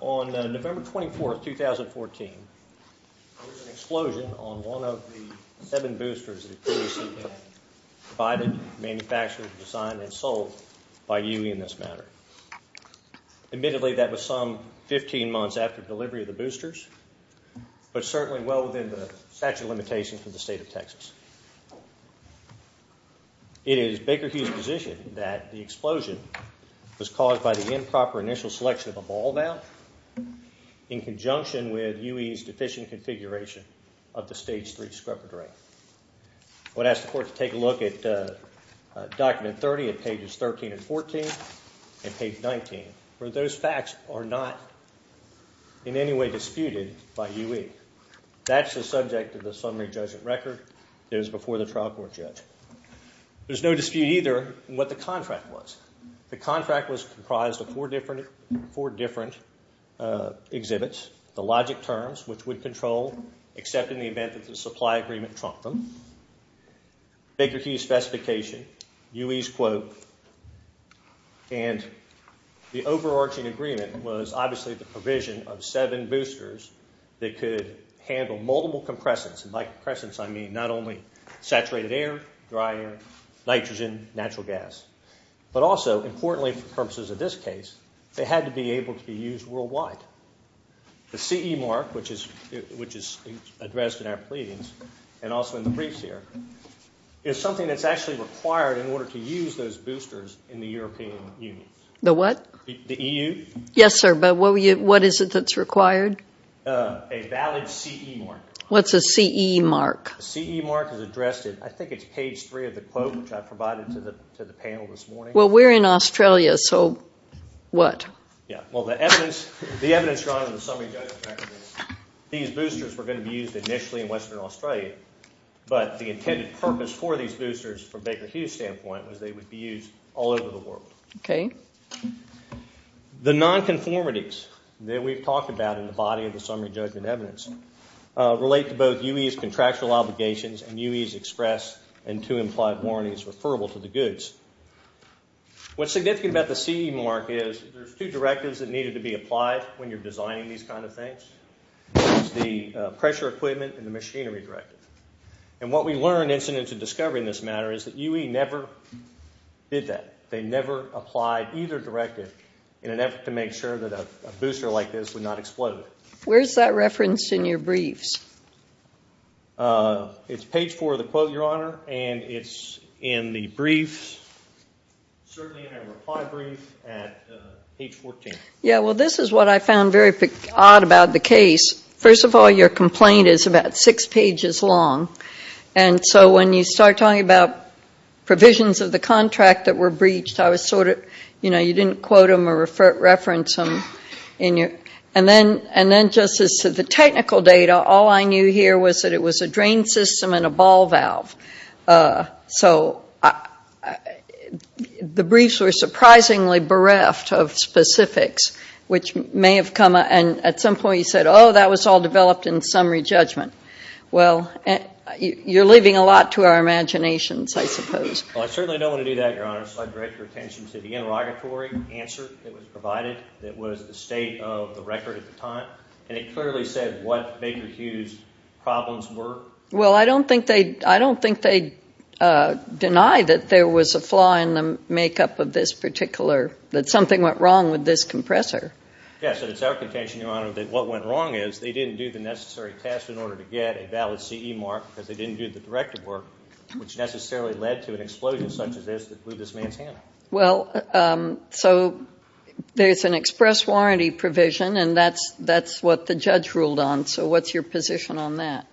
On November 24, 2014, there was an explosion on one of the seven boosters at QVC Bank, provided, manufactured, designed, and sold by UE in this matter. Admittedly, that was some 15 months after the delivery of the boosters, but certainly well within the statute of limitations from the state of Texas. It is Baker Hughes' position that the explosion was caused by the improper initial selection of a ball valve in conjunction with UE's deficient configuration of the Stage 3 discrepancy. I would ask the Court to take a look at Document 30 at pages 13 and 14 and page 19, where those facts are not in any way disputed by UE. That's the subject of the summary judgment record that is before the trial court judge. There's no dispute either in what the contract was. The contract was comprised of four different exhibits. The logic terms, which would control, except in the event that the supply agreement trumped them. Baker Hughes' specification, UE's quote, and the overarching agreement was obviously the provision of seven boosters that could handle multiple compressants, and by compressants I mean not only saturated air, dry air, nitrogen, natural gas, but also, importantly for purposes of this case, they had to be able to be used worldwide. The CE mark, which is addressed in our pleadings and also in the briefs here, is something that's actually required in order to use those boosters in the European Union. The what? The EU? Yes, sir, but what is it that's required? A valid CE mark. What's a CE mark? A CE mark is addressed in, I think it's page three of the quote, which I provided to the panel this morning. Well, we're in Australia, so what? Yeah, well, the evidence, the evidence drawn in the summary judgment record is these boosters were going to be used initially in Western Australia, but the intended purpose for these boosters from Baker Hughes' standpoint was they would be used all over the world. Okay. The non-conformities that we've talked about in the body of the summary judgment evidence relate to both UE's referable to the goods. What's significant about the CE mark is there's two directives that needed to be applied when you're designing these kind of things. There's the pressure equipment and the machinery directive, and what we learned incidentally in discovering this matter is that UE never did that. They never applied either directive in an effort to make sure that a booster like this would not explode. Where's that referenced in your briefs? It's page four of the quote, and it's in the briefs, certainly in a reply brief at page 14. Yeah, well, this is what I found very odd about the case. First of all, your complaint is about six pages long, and so when you start talking about provisions of the contract that were breached, I was sort of, you know, you didn't quote them or reference them, and then just as to the technical data, all I knew here was that it was a drain system and a ball valve, so the briefs were surprisingly bereft of specifics, which may have come, and at some point you said, oh, that was all developed in summary judgment. Well, you're leaving a lot to our imaginations, I suppose. Well, I certainly don't want to do that, Your Honor, so I'd like to direct your attention to the interrogatory answer that was provided that was the state of the record at the time, and it clearly said what Baker Hughes' problems were. Well, I don't think they'd deny that there was a flaw in the makeup of this particular, that something went wrong with this compressor. Yes, and it's our contention, Your Honor, that what went wrong is they didn't do the necessary test in order to get a valid CE mark because they didn't do the directive work, which necessarily led to an explosion such as this that blew this man's hand off. Well, so there's an express warranty provision, and that's what the judge ruled on, so what's your position on that?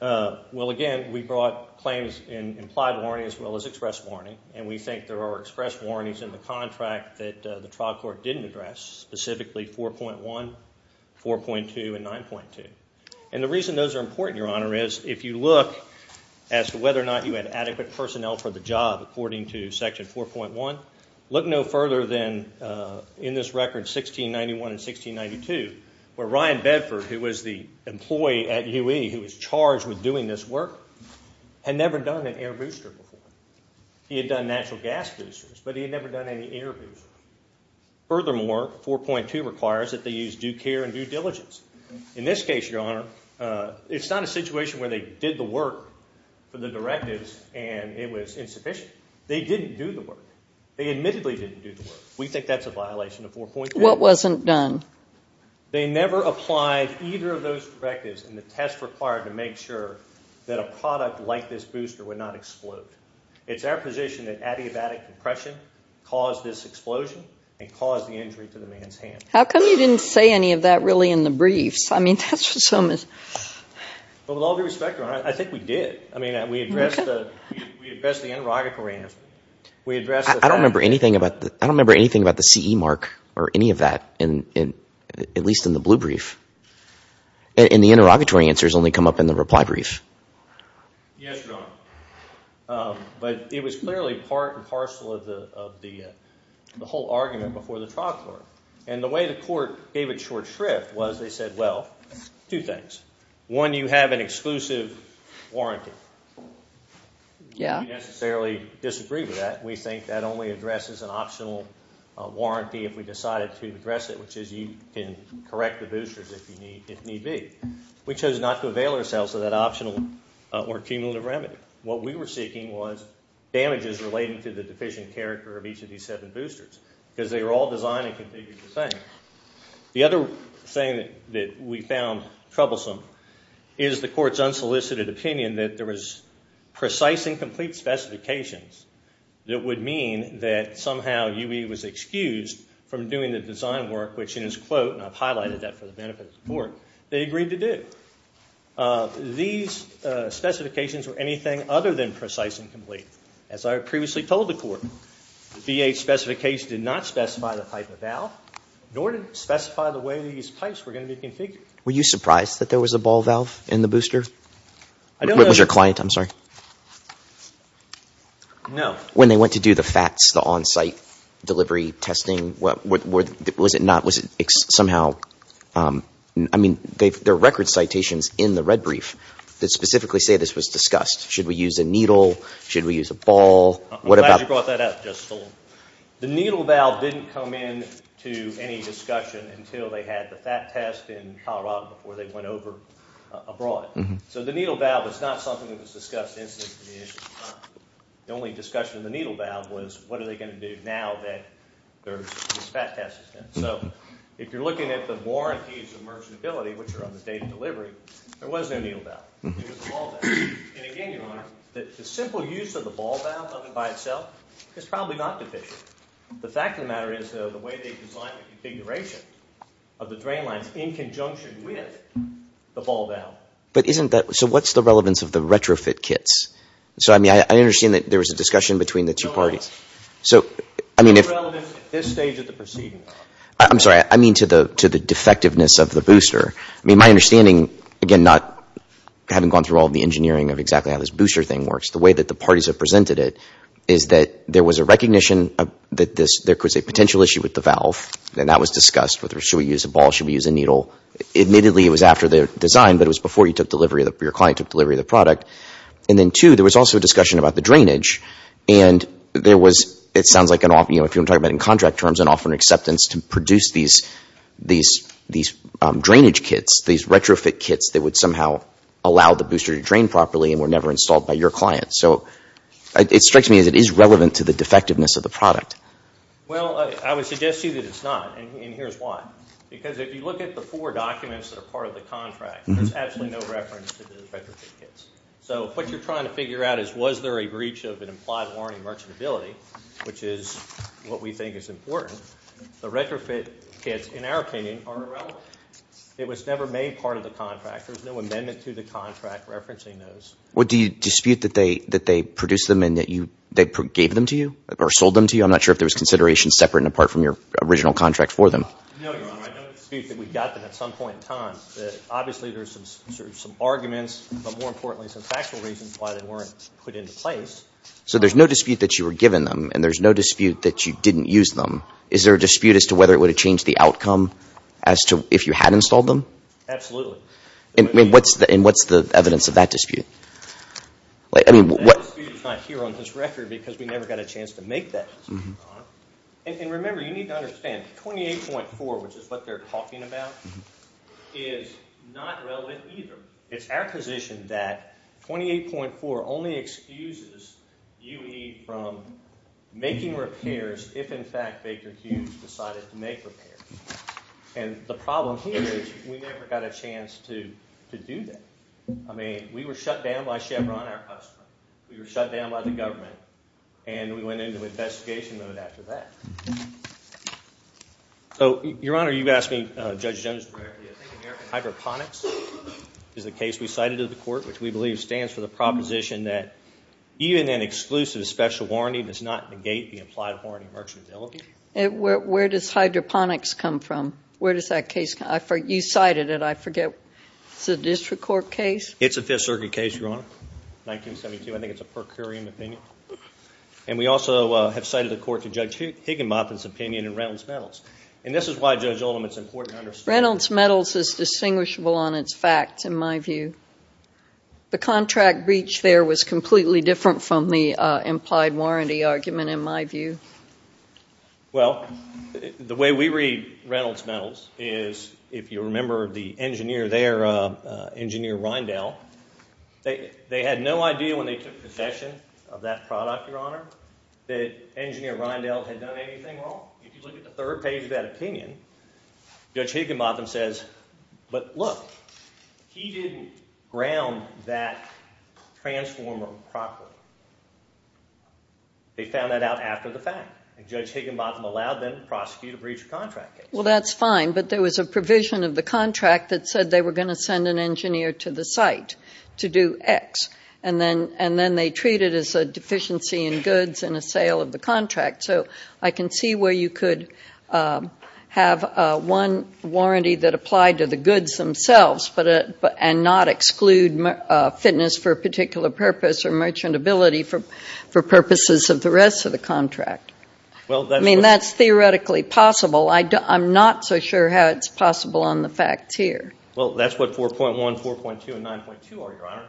Well, again, we brought claims in implied warranty as well as express warranty, and we think there are express warranties in the contract that the trial court didn't address, specifically 4.1, 4.2, and 9.2, and the reason those are important, Your Honor, is if you look as to whether or not you had adequate personnel for the job according to Section 4.1, look no further than in this record, 1691 and 1692, where Ryan Bedford, who was the employee at UE who was charged with doing this work, had never done an air booster before. He had done natural gas boosters, but he had never done any air boosters. Furthermore, 4.2 requires that they use due care and due diligence. In this case, Your Honor, it's not a situation where they did the work. They admittedly didn't do the work. We think that's a violation of 4.2. What wasn't done? They never applied either of those directives in the test required to make sure that a product like this booster would not explode. It's our position that adiabatic compression caused this explosion and caused the injury to the man's hand. How come you didn't say any of that really in the briefs? I mean, that's so mis... But with all due respect, Your Honor, I think we did. I mean, we addressed the interrogatory answers. I don't remember anything about the CE mark or any of that, at least in the blue brief. And the interrogatory answers only come up in the reply brief. Yes, Your Honor. But it was clearly part and parcel of the whole argument before the trial court. And the way the court gave it short shrift was they said, well, two things. One, you have an exclusive warranty. We don't necessarily disagree with that. We think that only addresses an optional warranty if we decided to address it, which is you can correct the boosters if need be. We chose not to avail ourselves of that optional or cumulative remedy. What we were seeking was damages relating to the deficient character of each of these seven boosters because they were all designed and configured the same. The other thing that we found troublesome is the court's unsolicited opinion that there was precise and complete specifications that would mean that somehow UE was excused from doing the design work, which in his quote, and I've highlighted that for the benefit of the court, they agreed to do. These specifications were anything other than precise and complete. As I previously told the court, the V8 specification did not specify the type of valve nor did it specify the way these pipes were going to be configured. Were you surprised that there was a ball valve in the booster? I don't know. Was your client, I'm sorry. No. When they went to do the FATS, the on-site delivery testing, was it not, was it somehow, I mean, there are record citations in the red brief that specifically say this was discussed. Should we use a needle? Should we use a ball? I'm glad you brought that up, Justice Sullivan. The needle valve didn't come into any discussion until they had the FAT test in Colorado before they went over abroad. So the needle valve was not something that was discussed instantly. The only discussion of the needle valve was what are they going to do now that there's this FAT test is done. So if you're looking at the warranties of merchantability, which are on the date of delivery, there was no needle valve. It was a ball valve. And again, Your Honor, the simple use of the ball valve by itself is probably not deficient. The fact of the matter is, though, the way they designed the configuration of the drain lines in conjunction with the ball valve. But isn't that, so what's the relevance of the retrofit kits? So, I mean, I understand that there was a discussion between the two parties. So, I mean. It's relevant at this stage of the proceeding. I'm sorry, I mean to the defectiveness of the booster. I mean, my understanding, again, not having gone through all the engineering of exactly how this booster thing works, the way that the parties have presented it, is that there was a recognition that there was a potential issue with the valve. And that was discussed. Should we use a ball? Should we use a needle? Admittedly, it was after the design, but it was before you took delivery, your client took delivery of the product. And then two, there was also a discussion about the drainage. And there was, it sounds like, if you're talking about in contract terms, offering acceptance to produce these drainage kits, these retrofit kits that would somehow allow the booster to drain properly and were never installed by your client. So, it strikes me as it is relevant to the defectiveness of the product. Well, I would suggest to you that it's not. And here's why. Because if you look at the four documents that are part of the contract, there's absolutely no reference to the retrofit kits. So, what you're trying to figure out is was there a breach of an implied warranty merchantability, which is what we think is important. The retrofit kits, in our opinion, are irrelevant. It was never made part of the contract. There's no amendment to the contract referencing those. Would you dispute that they produced them and that they gave them to you or sold them to you? I'm not sure if there was consideration separate and apart from your original contract for them. No, Your Honor. I don't dispute that we got them at some point in time. Obviously, there's some arguments, but more importantly, some factual reasons why they weren't put into place. So, there's no dispute that you were given them, and there's no dispute that you didn't use them. Is there a dispute as to whether it would have changed the outcome as to if you had installed them? Absolutely. And what's the evidence of that dispute? That dispute is not here on this record because we never got a chance to make that dispute, Your Honor. And remember, you need to understand, 28.4, which is what they're talking about, is not relevant either. It's our position that 28.4 only excuses UE from making repairs if, in fact, Baker Hughes decided to make repairs. And the problem here is we never got a chance to do that. I mean, we were shut down by Chevron, our customer. We were shut down by the government, and we went into investigation mode after that. So, Your Honor, you've asked me, Judge Jones, hydroponics is the case we cited to the court, which we believe stands for the proposition that even an exclusive special warranty does not negate the implied warranty of merchantability. Where does hydroponics come from? Where does that case come from? You cited it. I forget. It's a district court case? It's a Fifth Circuit case, Your Honor. 1972. I think it's a per curiam opinion. And we also have cited the court to Judge Higginbotham's opinion in Reynolds Metals. And this is why, Judge Oldham, it's important to understand— Reynolds Metals is distinguishable on its facts, in my view. The contract breach there was completely different from the implied warranty argument, in my view. Well, the way we read Reynolds Metals is, if you remember the engineer there, Engineer Rindell, they had no idea when they took possession of that product, Your Honor, that Engineer Rindell had done anything wrong. If you look at the third page of that opinion, Judge Higginbotham says, but look, he didn't ground that transformer properly. They found that out after the fact. And Judge Higginbotham allowed them to prosecute a breach of contract case. Well, that's fine. But there was a provision of the contract that said they were going to send an engineer to the site to do X. And then they treat it as a deficiency in goods and a sale of the contract. So I can see where you could have one warranty that applied to the goods themselves and not exclude fitness for a particular purpose or merchantability for purposes of the rest of the contract. I mean, that's theoretically possible. I'm not so sure how it's possible on the facts here. Well, that's what 4.1, 4.2, and 9.2 are, Your Honor.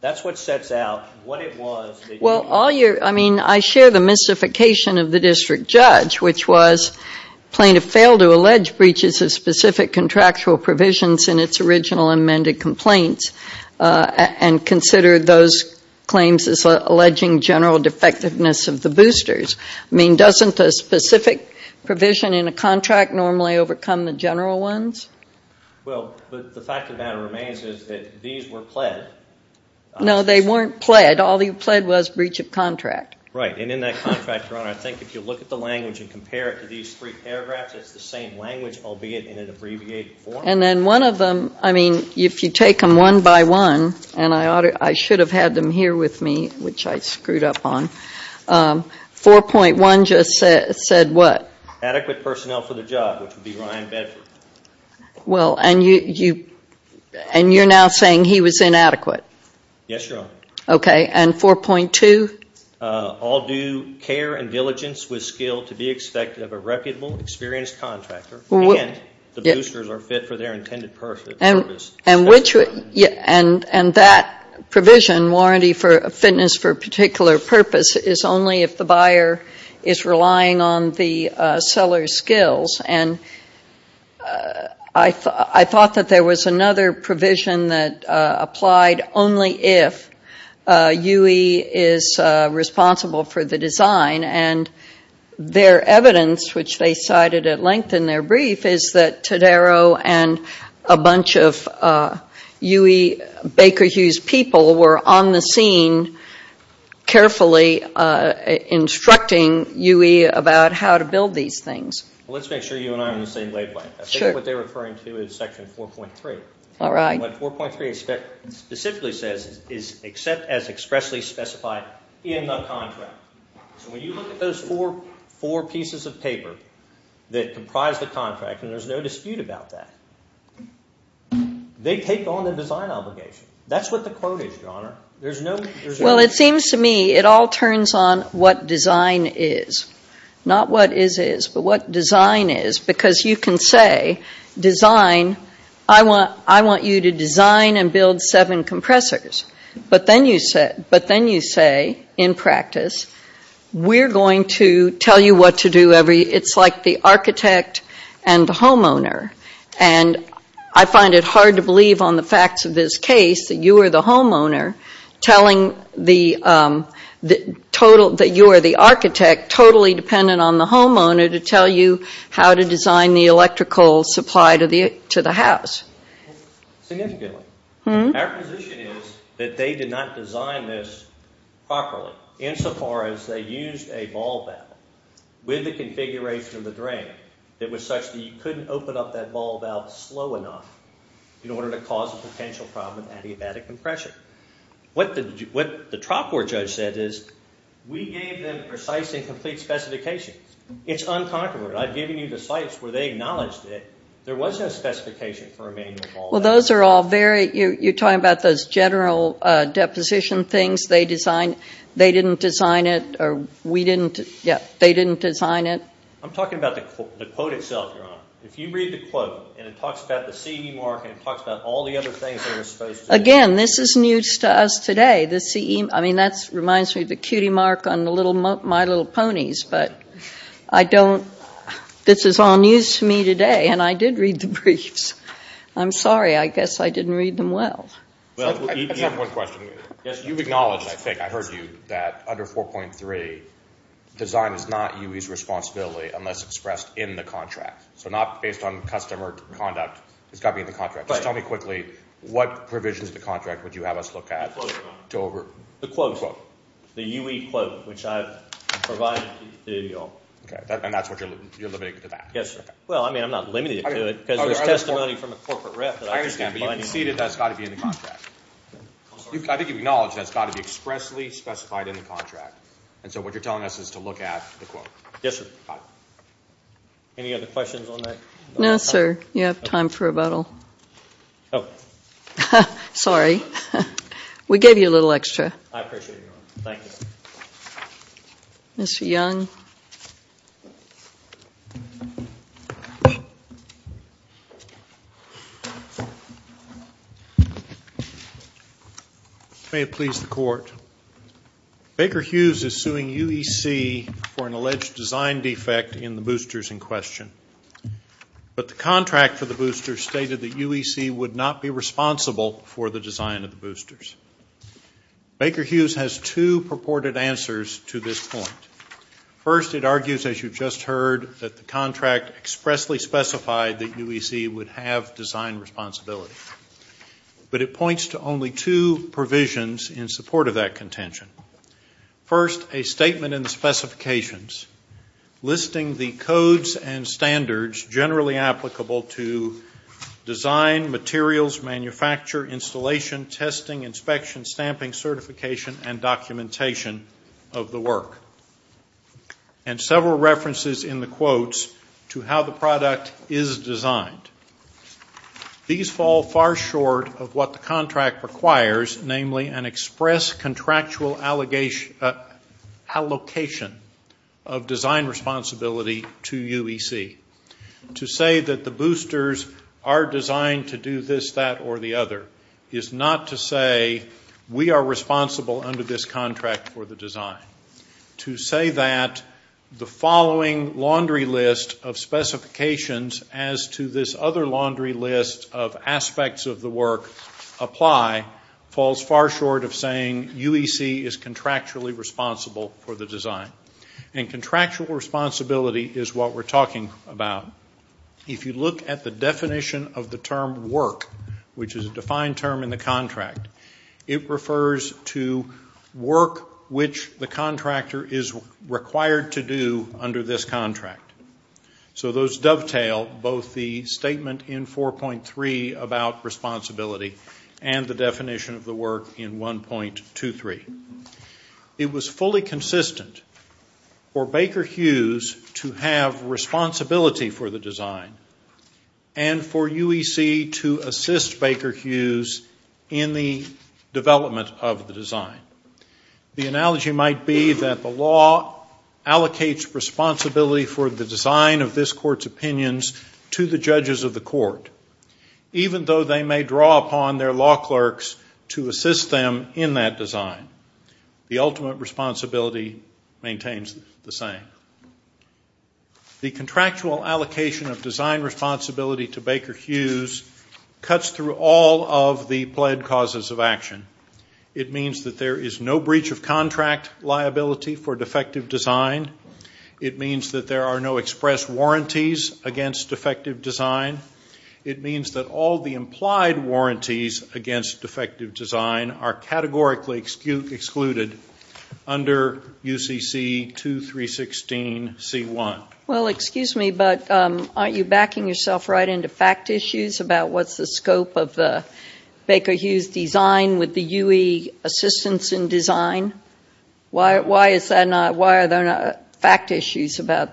That's what sets out what it was that— I mean, I share the mystification of the district judge, which was plaintiff failed to allege breaches of specific contractual provisions in its original amended complaints and considered those claims as alleging general defectiveness of the boosters. I mean, doesn't a specific provision in a contract normally overcome the general ones? Well, the fact of the matter remains is that these were pled. No, they weren't pled. All they pled was breach of contract. Right, and in that contract, Your Honor, I think if you look at the language and compare it to these three paragraphs, it's the same language, albeit in an abbreviated form. And then one of them, I mean, if you take them one by one— and I should have had them here with me, which I screwed up on— 4.1 just said what? Adequate personnel for the job, which would be Ryan Bedford. Well, and you're now saying he was inadequate? Yes, Your Honor. Okay, and 4.2? All due care and diligence with skill to be expected of a reputable, experienced contractor and the boosters are fit for their intended purpose. And that provision, warranty for fitness for a particular purpose, is only if the buyer is relying on the seller's skills. And I thought that there was another provision that applied only if UE is responsible for the design. And their evidence, which they cited at length in their brief, is that Todaro and a bunch of UE Baker Hughes people were on the scene carefully instructing UE about how to build these things. Well, let's make sure you and I are on the same wavelength. I think what they're referring to is Section 4.3. All right. What 4.3 specifically says is except as expressly specified in the contract. So when you look at those four pieces of paper that comprise the contract, and there's no dispute about that, they take on the design obligation. That's what the quote is, Your Honor. There's no... Well, it seems to me it all turns on what design is. Not what is is, but what design is. Because you can say, I want you to design and build seven compressors. But then you say, in practice, we're going to tell you what to do every... It's like the architect and the homeowner. And I find it hard to believe on the facts of this case that you are the homeowner telling that you are the architect totally dependent on the homeowner to tell you how to design the electrical supply to the house. Significantly. Our position is that they did not design this properly insofar as they used a valve valve with the configuration of the drain that was such that you couldn't open up that valve valve slow enough in order to cause a potential problem with adiabatic compression. What the trial court judge said is, we gave them precise and complete specifications. It's uncontroverted. I've given you the sites where they acknowledged it. There was no specification for a manual valve. Well, those are all very... You're talking about those general deposition things? They didn't design it or we didn't... Yeah, they didn't design it. I'm talking about the quote itself, Your Honor. If you read the quote and it talks about the CE mark and it talks about all the other things they were supposed to... Again, this is news to us today. The CE... I mean, that reminds me of the cutie mark on my little ponies. But I don't... This is all news to me today and I did read the briefs. I'm sorry. I guess I didn't read them well. Well, I have one question. Yes, you've acknowledged, I think I heard you, that under 4.3, design is not UE's responsibility unless expressed in the contract. So not based on customer conduct. It's got to be in the contract. Just tell me quickly, what provisions of the contract would you have us look at to over... The quote. The UE quote, which I've provided to you all. Okay, and that's what you're limiting to that? Yes, sir. Well, I mean, I'm not limiting it to it because there's testimony from a corporate rep... I understand, but you've conceded that's got to be in the contract. I think you've acknowledged that's got to be expressly specified in the contract. And so what you're telling us is to look at the quote. Yes, sir. Any other questions on that? No, sir. You have time for rebuttal. Oh. Sorry. We gave you a little extra. I appreciate it, ma'am. Thank you. Mr. Young. May it please the court. Baker Hughes is suing UEC for an alleged design defect in the boosters in question. But the contract for the boosters stated that UEC would not be responsible for the design of the boosters. Baker Hughes has two purported answers to this point. First, it argues, as you've just heard, that the contract expressly specified that UEC would have design responsibility. But it points to only two provisions in support of that contention. First, a statement in the specifications listing the codes and standards generally applicable to design, materials, manufacture, installation, testing, inspection, stamping, certification, and documentation of the work. And several references in the quotes to how the product is designed. These fall far short of what the contract requires, namely an express contractual allocation of design responsibility to UEC. To say that the boosters are designed to do this, that, or the other is not to say we are responsible under this contract for the design. To say that the following laundry list of specifications as to this other laundry list of aspects of the work apply falls far short of saying UEC is contractually responsible for the design. And contractual responsibility is what we're talking about. If you look at the definition of the term work, which is a defined term in the contract, it refers to work which the contractor is required to do under this contract. So those dovetail both the statement in 4.3 about responsibility and the definition of the work in 1.23. It was fully consistent for Baker Hughes to have responsibility for the design and for UEC to assist Baker Hughes in the development of the design. The analogy might be that the law allocates responsibility for the design of this court's opinions to the judges of the court, even though they may draw upon their law clerks to assist them in that design. The ultimate responsibility maintains the same. The contractual allocation of design responsibility to Baker Hughes cuts through all of the pled causes of action. It means that there is no breach of contract liability for defective design. It means that there are no express warranties against defective design. It means that all the implied warranties against defective design are categorically excluded under UCC 2316 C1. Well, excuse me, but aren't you backing yourself right into fact issues about what's the scope of the Baker Hughes design with the UE assistance in design? Why are there not fact issues about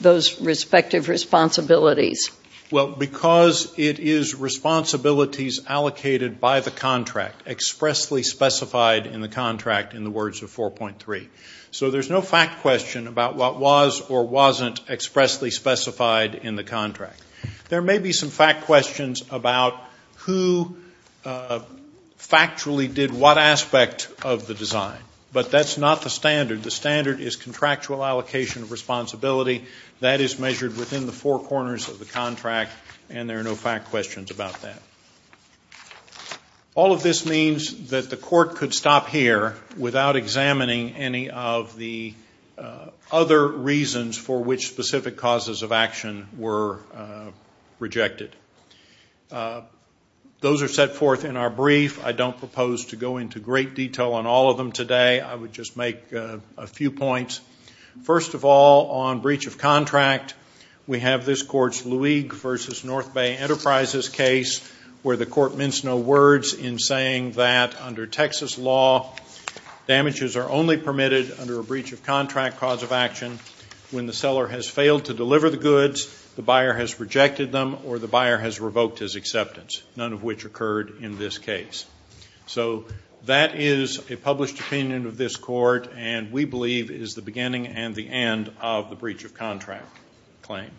those respective responsibilities? Well, because it is responsibilities allocated by the contract, expressly specified in the contract in the words of 4.3. So there's no fact question about what was or wasn't expressly specified in the contract. There may be some fact questions about who factually did what aspect of the design, but that's not the standard. The standard is contractual allocation of responsibility. That is measured within the four corners of the contract, and there are no fact questions about that. All of this means that the court could stop here without examining any of the other reasons for which specific causes of action were rejected. Those are set forth in our brief. I don't propose to go into great detail on all of them today. I would just make a few points. First of all, on breach of contract, we have this court's Luig v. North Bay Enterprises case where the court mints no words in saying that under Texas law, damages are only permitted under a breach of contract cause of action when the seller has failed to deliver the goods, the buyer has rejected them, or the buyer has revoked his acceptance, none of which occurred in this case. So that is a published opinion of this court, and we believe is the beginning and the end of the breach of contract claim.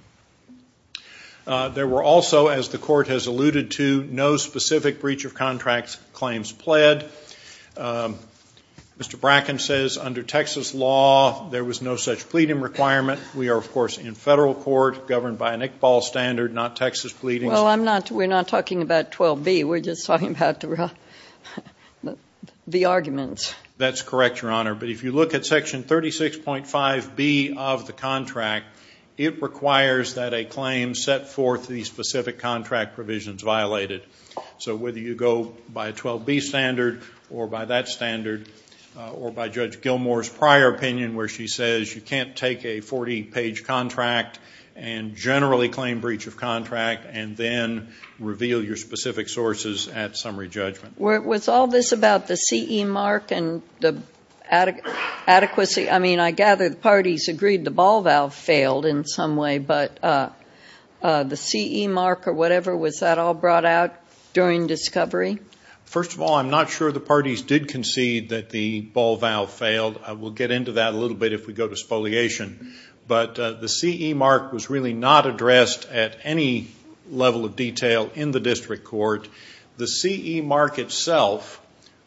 There were also, as the court has alluded to, no specific breach of contract claims pled. Mr. Bracken says under Texas law, there was no such pleading requirement. We are, of course, in federal court, governed by an Iqbal standard, not Texas pleadings. Well, we're not talking about 12B. We're just talking about the arguments. That's correct, Your Honor. But if you look at section 36.5B of the contract, it requires that a claim set forth these specific contract provisions violated. So whether you go by a 12B standard or by that standard or by Judge Gilmour's prior opinion where she says you can't take a 40-page contract and generally claim breach of contract and then reveal your specific sources at summary judgment. Was all this about the CE mark and the adequacy? I mean, I gather the parties agreed the ball valve failed in some way, but the CE mark or whatever, was that all brought out during discovery? First of all, I'm not sure the parties did concede that the ball valve failed. We'll get into that a little bit if we go to spoliation. But the CE mark was really not addressed at any level of detail in the district court. The CE mark itself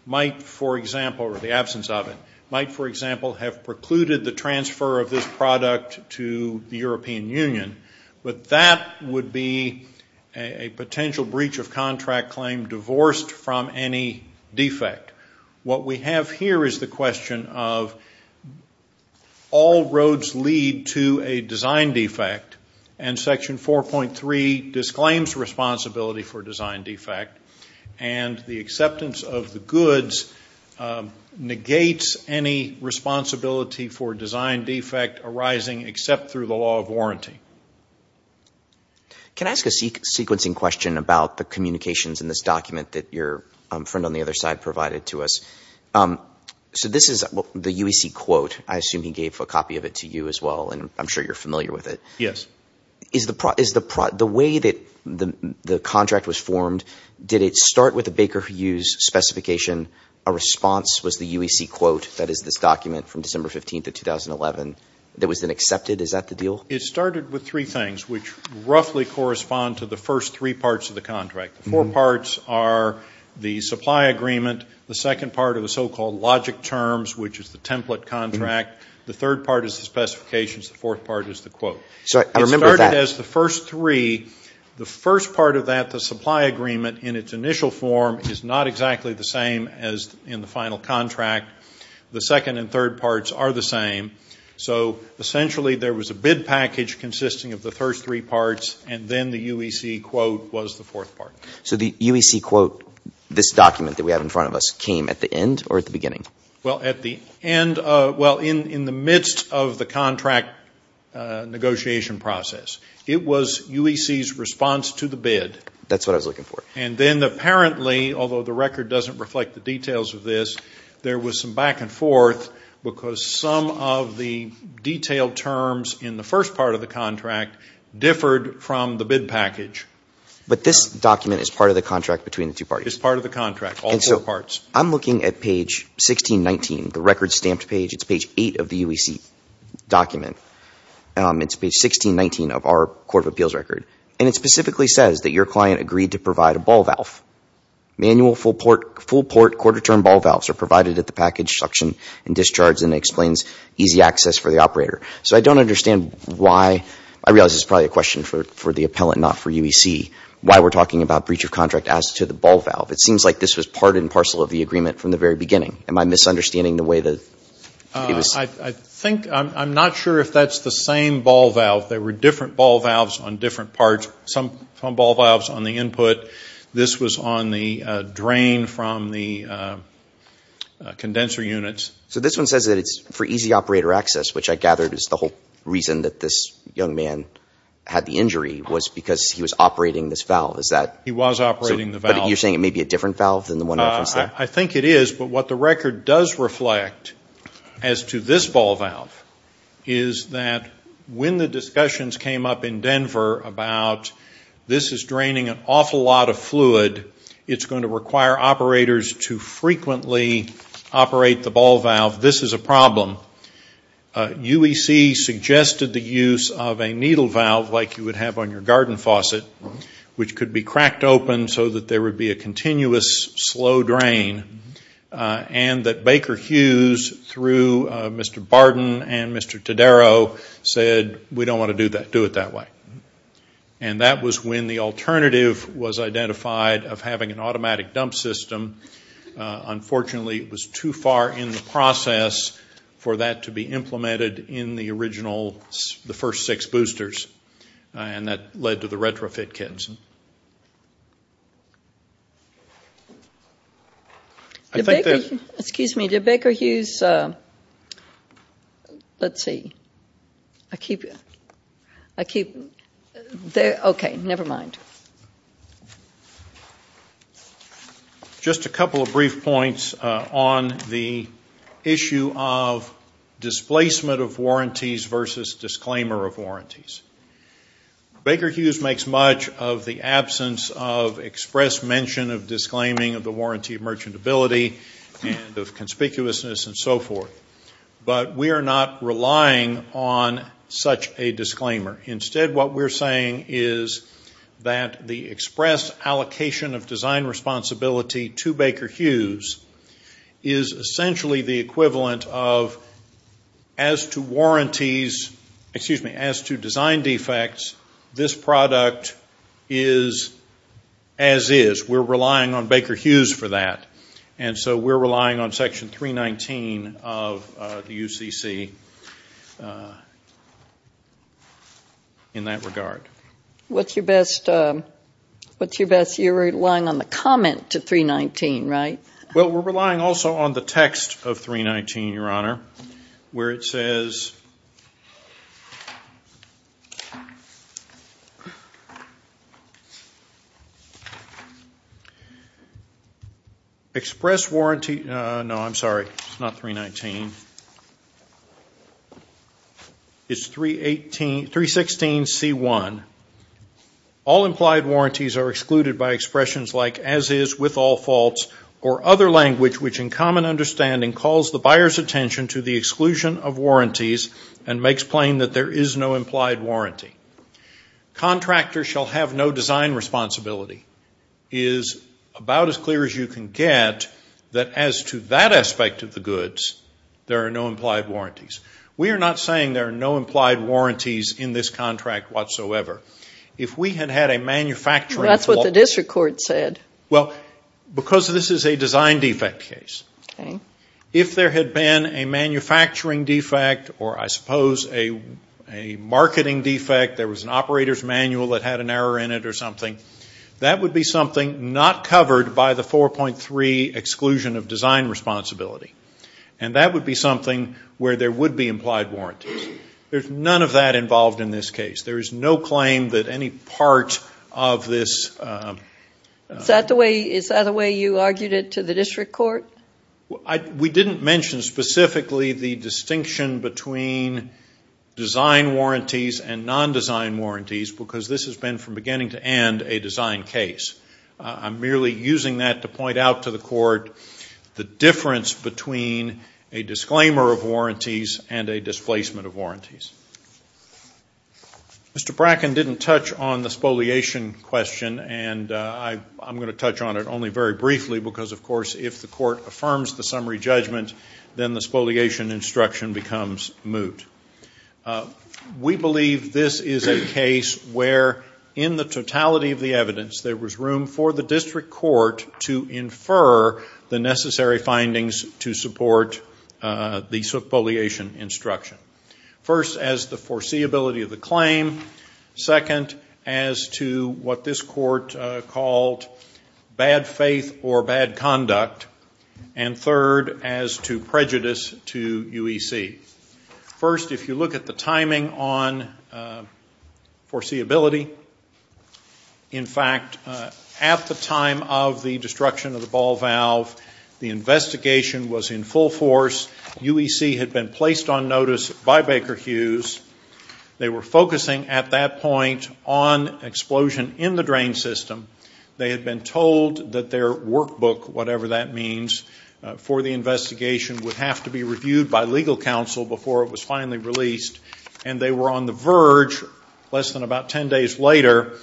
might, for example, or the absence of it, might, for example, have precluded the transfer of this product to the European Union. But that would be a potential breach of contract claim divorced from any defect. What we have here is the question of all roads lead to a design defect and Section 4.3 disclaims responsibility for design defect and the acceptance of the goods negates any responsibility for design defect arising except through the law of warranty. Can I ask a sequencing question about the communications in this document that your friend on the other side provided to us? So this is the UEC quote. I assume he gave a copy of it to you as well and I'm sure you're familiar with it. Yes. The way that the contract was formed, did it start with a Baker Hughes specification a response was the UEC quote, that is this document from December 15th of 2011 that was then accepted? Is that the deal? It started with three things which roughly correspond to the first three parts of the contract. The four parts are the supply agreement, the second part of the so-called logic terms, which is the template contract, the third part is the specifications, the fourth part is the quote. So I remember that. It started as the first three. The first part of that, the supply agreement in its initial form is not exactly the same as in the final contract. The second and third parts are the same. So essentially there was a bid package consisting of the first three parts and then the UEC quote was the fourth part. So the UEC quote, this document that we have in front of us came at the end or at the beginning? Well, at the end, well, in the midst of the contract negotiation process, it was UEC's response to the bid. That's what I was looking for. And then apparently, although the record doesn't reflect the details of this, there was some back and forth because some of the detailed terms in the first part of the contract differed from the bid package. But this document is part of the contract between the two parties? It's part of the contract, all four parts. I'm looking at page 1619, the record stamped page. It's page eight of the UEC document. It's page 1619 of our court of appeals record. And it specifically says that your client agreed to provide a ball valve. Manual full port quarter-term ball valves are provided at the package suction and discharge and explains easy access for the operator. So I don't understand why, I realize this is probably a question for the appellant, not for UEC, why we're talking about breach of contract as to the ball valve. It seems like this was part and parcel of the agreement from the very beginning. Am I misunderstanding the way that it was? I think, I'm not sure if that's the same ball valve. There were different ball valves on different parts. Some ball valves on the input. This was on the drain from the condenser units. So this one says that it's for easy operator access, which I gathered is the whole reason that this young man had the injury was because he was operating this valve. Is that? He was operating the valve. You're saying it may be a different valve than the one that was there? I think it is, but what the record does reflect as to this ball valve is that when the discussions came up in Denver about this is draining an awful lot of fluid, it's going to require operators to frequently operate the ball valve, this is a problem. UEC suggested the use of a needle valve like you would have on your garden faucet, which could be cracked open so that there would be a continuous slow drain and that Baker Hughes, through Mr. Barden and Mr. Tadaro, said we don't want to do it that way. And that was when the alternative was identified of having an automatic dump system. Unfortunately, it was too far in the process for that to be implemented in the original, the first six boosters and that led to the retrofit Kedson. Excuse me, did Baker Hughes, let's see, I keep, I keep, okay, never mind. Just a couple of brief points on the issue of displacement of warranties versus disclaimer of warranties. Baker Hughes makes much of the absence of express mention of disclaiming of the warranty merchantability and of conspicuousness and so forth, but we are not relying on such a disclaimer. Instead, what we're saying is that the express allocation of design responsibility to Baker Hughes is essentially the equivalent of as to warranties, excuse me, as to design defects, this product is as is. We're relying on Baker Hughes for that and so we're relying on section 319 of the UCC in that regard. What's your best, what's your best, you're relying on the comment to 319, right? Well, we're relying also on the text of 319, Your Honor, where it says, express warranty, no, I'm sorry, it's not 319, it's 316C1, all implied warranties are excluded by expressions like as is with all faults or other language which in common understanding calls the buyer's attention to the exclusion of warranties and makes plain that there is no implied warranty. Contractor shall have no design responsibility is about as clear as you can get that as to that aspect of the goods, there are no implied warranties. We are not saying there are no implied warranties in this contract whatsoever. If we had had a manufacturing fault, That's what the district court said. Well, because this is a design defect case, if there had been a manufacturing defect or I suppose a marketing defect, there was an operator's manual that had an error in it or something, that would be something not covered by the 4.3 exclusion of design responsibility. And that would be something where there would be implied warranties. There's none of that involved in this case. There is no claim that any part of this... Is that the way you argued it to the district court? We didn't mention specifically the distinction between design warranties and non-design warranties because this has been from beginning to end a design case. I'm merely using that to point out to the court the difference between a disclaimer of warranties and a displacement of warranties. Mr. Bracken didn't touch on the spoliation question and I'm going to touch on it only very briefly because, of course, if the court affirms the summary judgment, then the spoliation instruction becomes moot. We believe this is a case where in the totality of the evidence, there was room for the district court to infer the necessary findings to support the spoliation instruction. First, as the foreseeability of the claim. Second, as to what this court called bad faith or bad conduct. And third, as to prejudice to UEC. First, if you look at the timing on foreseeability, in fact, at the time of the destruction of the ball valve, the investigation was in full force. UEC had been placed on notice by Baker Hughes. They were focusing at that point on explosion in the drain system. They had been told that their workbook, whatever that means, for the investigation would have to be reviewed by legal counsel before it was finally released. And they were on the verge, less than about 10 days later,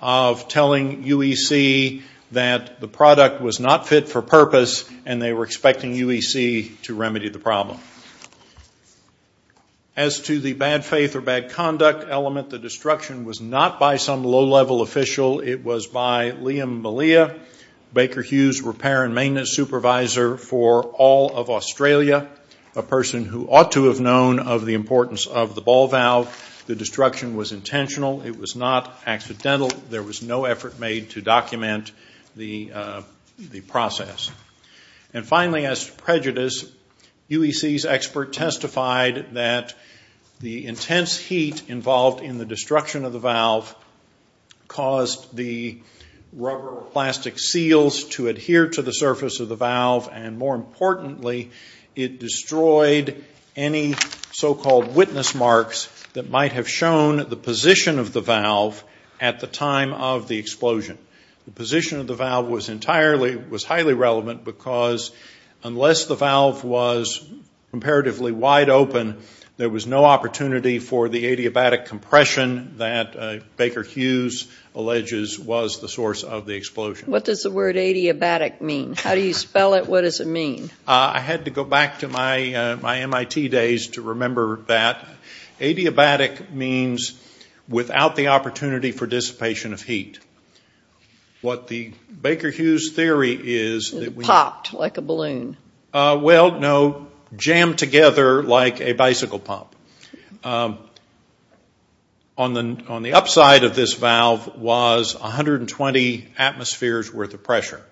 of telling UEC that the product was not fit for purpose and they were expecting UEC to remedy the problem. As to the bad faith or bad conduct element, the destruction was not by some low-level official. It was by Liam Malia, Baker Hughes repair and maintenance supervisor for all of Australia, a person who ought to have known of the importance of the ball valve. The destruction was intentional. It was not accidental. There was no effort made to document the process. And finally, as to prejudice, UEC's expert testified that the intense heat involved in the destruction of the valve caused the rubber or plastic seals to adhere to the surface of the valve. And more importantly, it destroyed any so-called witness marks that might have shown the position of the valve at the time of the explosion. The position of the valve was highly relevant because unless the valve was comparatively wide open, there was no opportunity for the adiabatic compression that Baker Hughes alleges was the source of the explosion. What does the word adiabatic mean? How do you spell it? What does it mean? I had to go back to my MIT days to remember that adiabatic means without the opportunity for dissipation of heat. What the Baker Hughes theory is... It popped like a balloon. Well, no, jammed together like a bicycle pump. On the upside of this valve was 120 atmospheres worth of pressure.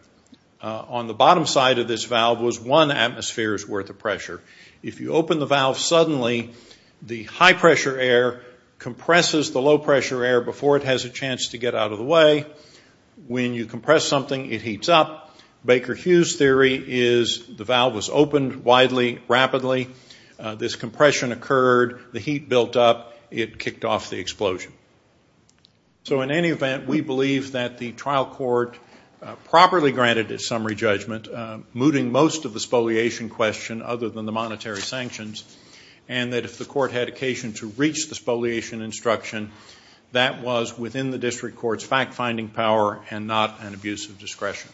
On the bottom side of this valve was one atmosphere's worth of pressure. If you open the valve suddenly, the high-pressure air compresses the low-pressure air before it has a chance to get out of the way. When you compress something, it heats up. Baker Hughes' theory is the valve was opened widely, rapidly. This compression occurred. The heat built up. It kicked off the explosion. So in any event, we believe that the trial court properly granted its summary judgment, mooting most of the spoliation question other than the monetary sanctions, and that if the court had occasion to reach the spoliation instruction, that was within the district court's fact-finding power and not an abuse of discretion.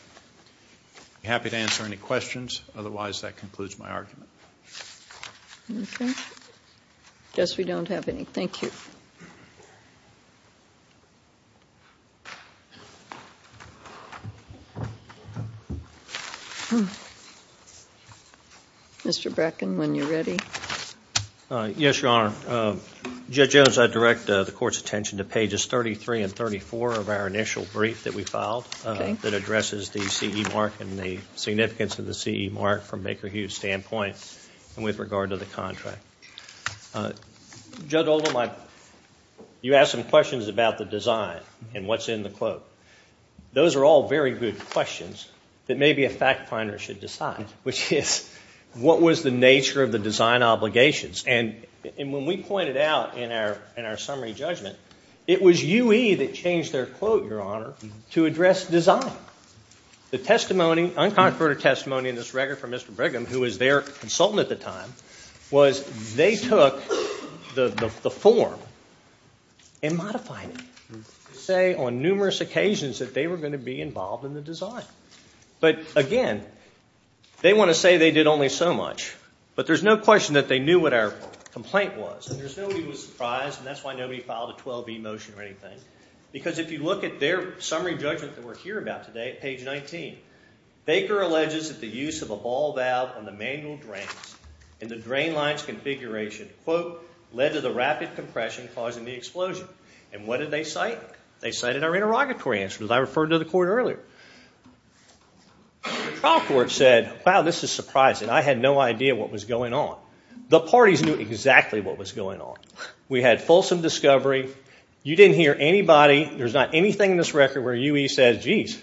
I'd be happy to answer any questions. Otherwise, that concludes my argument. Okay. I guess we don't have any. Thank you. Mr. Bracken, when you're ready. Yes, Your Honor. Judge Jones, I direct the court's attention to pages 33 and 34 of our initial brief that we filed that addresses the CE mark and the significance of the CE mark from Baker Hughes' standpoint. With regard to the contract. Judge Oldham, you asked some questions about the design and what's in the quote. Those are all very good questions that maybe a fact finder should decide, which is what was the nature of the design obligations? And when we pointed out in our summary judgment, it was UE that changed their quote, Your Honor, to address design. The testimony, unconverted testimony in this record from Mr. Brigham, who was their consultant at the time, was they took the form and modified it to say on numerous occasions that they were going to be involved in the design. But again, they want to say they did only so much, but there's no question that they knew what our complaint was. There's no reason to be surprised, and that's why nobody filed a 12B motion or anything. Because if you look at their summary judgment that we're hearing about today, page 19, Baker alleges that the use of a ball valve on the manual drains in the drain lines configuration, quote, led to the rapid compression causing the explosion. And what did they cite? They cited our interrogatory answers I referred to the court earlier. The trial court said, Wow, this is surprising. I had no idea what was going on. The parties knew exactly what was going on. We had fulsome discovery. You didn't hear anybody. There's not anything in this record where UE says, Geez,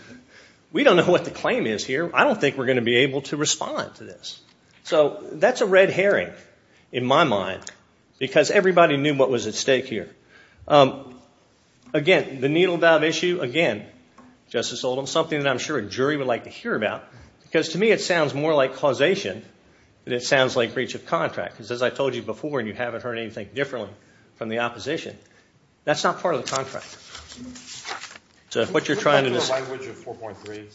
we don't know what the claim is here. I don't think we're going to be able to respond to this. So that's a red herring in my mind, because everybody knew what was at stake here. Again, the needle valve issue, again, Justice Oldham, something that I'm sure a jury would like to hear about, because to me, it sounds more like causation than it sounds like breach of contract. Because as I told you before, and you haven't heard anything differently from the opposition, that's not part of the contract. So what you're trying to do is- Can you talk to a language of 4.3?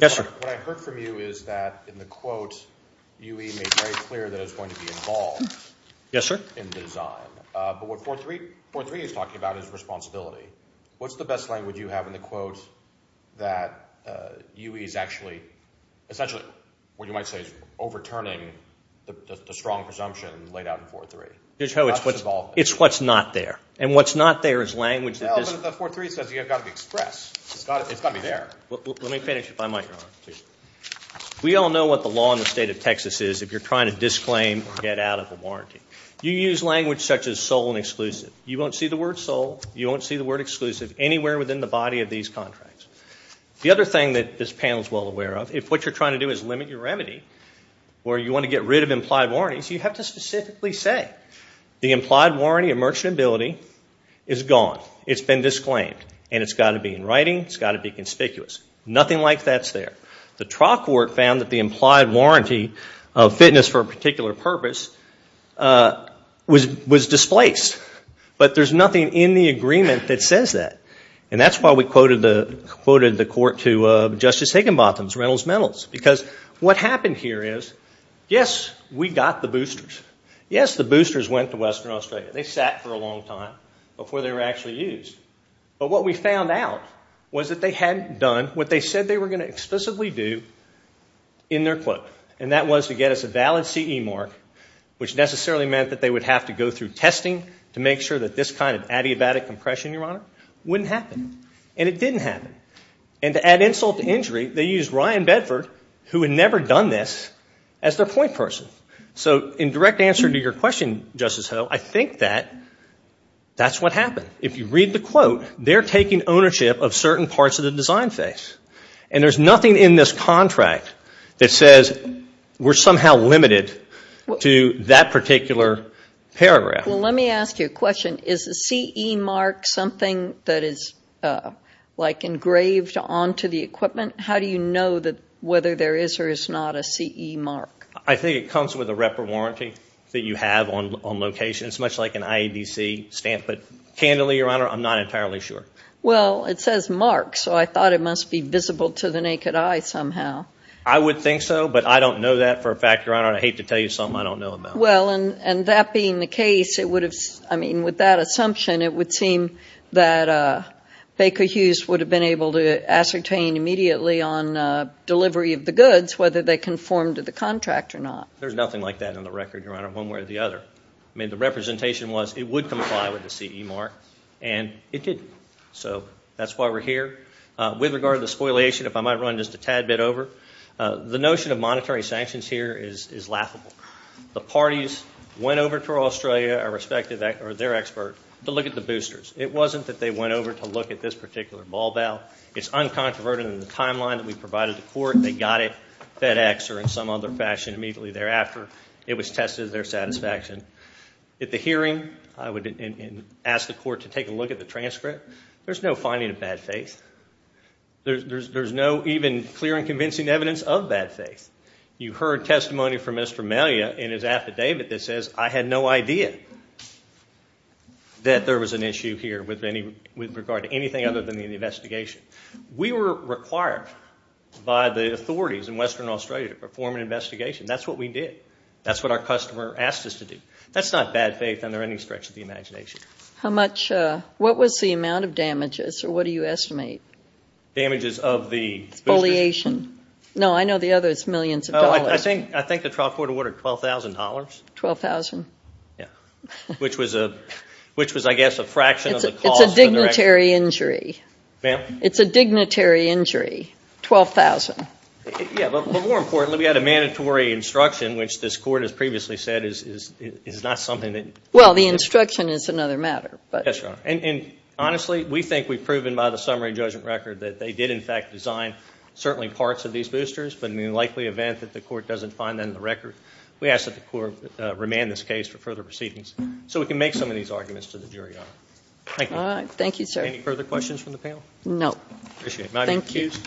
Yes, sir. What I heard from you is that in the quote, UE made very clear that it's going to be involved- Yes, sir. In design. But what 4.3 is talking about is responsibility. What's the best language you have in the quote that UE is actually, essentially, what you might say, is overturning the strong presumption laid out in 4.3? It's what's not there. And what's not there is language- No, but the 4.3 says you've got to express. It's got to be there. Let me finish if I might. We all know what the law in the state of Texas is if you're trying to disclaim or get out of a warranty. You use language such as sole and exclusive. You won't see the word sole. You won't see the word exclusive anywhere within the body of these contracts. The other thing that this panel is well aware of, if what you're trying to do is limit your remedy or you want to get rid of implied warranties, you have to specifically say the implied warranty of merchantability is gone. It's been disclaimed. And it's got to be in writing. It's got to be conspicuous. Nothing like that's there. The Trot Court found that the implied warranty of fitness for a particular purpose was displaced. But there's nothing in the agreement that says that. And that's why we quoted the court to Justice Higginbotham, Reynolds Metals, because what happened here is, yes, we got the boosters. Yes, the boosters went to Western Australia. They sat for a long time before they were actually used. But what we found out was that they hadn't done what they said they were going to explicitly do in their quote. And that was to get us a valid CE mark, which necessarily meant that they would have to go through testing to make sure that this kind of adiabatic compression, Your Honor, wouldn't happen. And it didn't happen. And to add insult to injury, they used Ryan Bedford, who had never done this, as their point person. So in direct answer to your question, Justice Ho, I think that that's what happened. If you read the quote, they're taking ownership of certain parts of the design phase. And there's nothing in this contract that says we're somehow limited to that particular paragraph. Well, let me ask you a question. Is the CE mark something that is, like, engraved onto the equipment? How do you know that whether there is or is not a CE mark? I think it comes with a wrapper warranty that you have on location. It's much like an IEDC stamp. But candidly, Your Honor, I'm not entirely sure. Well, it says mark, so I thought it must be visible to the naked eye somehow. I would think so, but I don't know that for a fact, Your Honor. And I hate to tell you something I don't know about. Well, and that being the case, it would have, I mean, with that assumption, it would seem that Baker Hughes would have been able to ascertain immediately on delivery of the goods whether they conformed to the contract or not. There's nothing like that on the record, Your Honor, one way or the other. I mean, the representation was it would comply with the CE mark and it didn't. So that's why we're here. With regard to the spoliation, if I might run just a tad bit over, the notion of monetary sanctions here is laughable. The parties went over to Australia, our respective or their expert, to look at the boosters. It wasn't that they went over to look at this particular ball bell. It's uncontroverted in the timeline that we provided the court. They got it FedEx or in some other fashion immediately thereafter. It was tested their satisfaction. At the hearing, I would ask the court to take a look at the transcript. There's no finding of bad faith. There's no even clear and convincing evidence of bad faith. You heard testimony from Mr. Melia in his affidavit that says I had no idea that there was an issue here with regard to anything other than the investigation. We were required by the authorities in Western Australia to perform an investigation. That's what we did. That's what our customer asked us to do. That's not bad faith under any stretch of the imagination. How much... What was the amount of damages or what do you estimate? Damages of the... Foliation. No, I know the other is millions of dollars. I think the trial court awarded $12,000. $12,000. Yeah, which was, I guess, a fraction of the cost. It's a dignitary injury. Ma'am? It's a dignitary injury, $12,000. Yeah, but more importantly, we had a mandatory instruction which this court has previously said is not something that... Well, the instruction is another matter, but... Yes, Your Honor. And honestly, we think we've proven by the summary judgment record that they did, in fact, design certainly parts of these boosters, but in the likely event that the court doesn't find them in the record, we ask that the court remand this case for further proceedings so we can make some of these arguments to the jury, Your Honor. Thank you. All right. Thank you, sir. Any further questions from the panel? No. Appreciate it. Am I excused?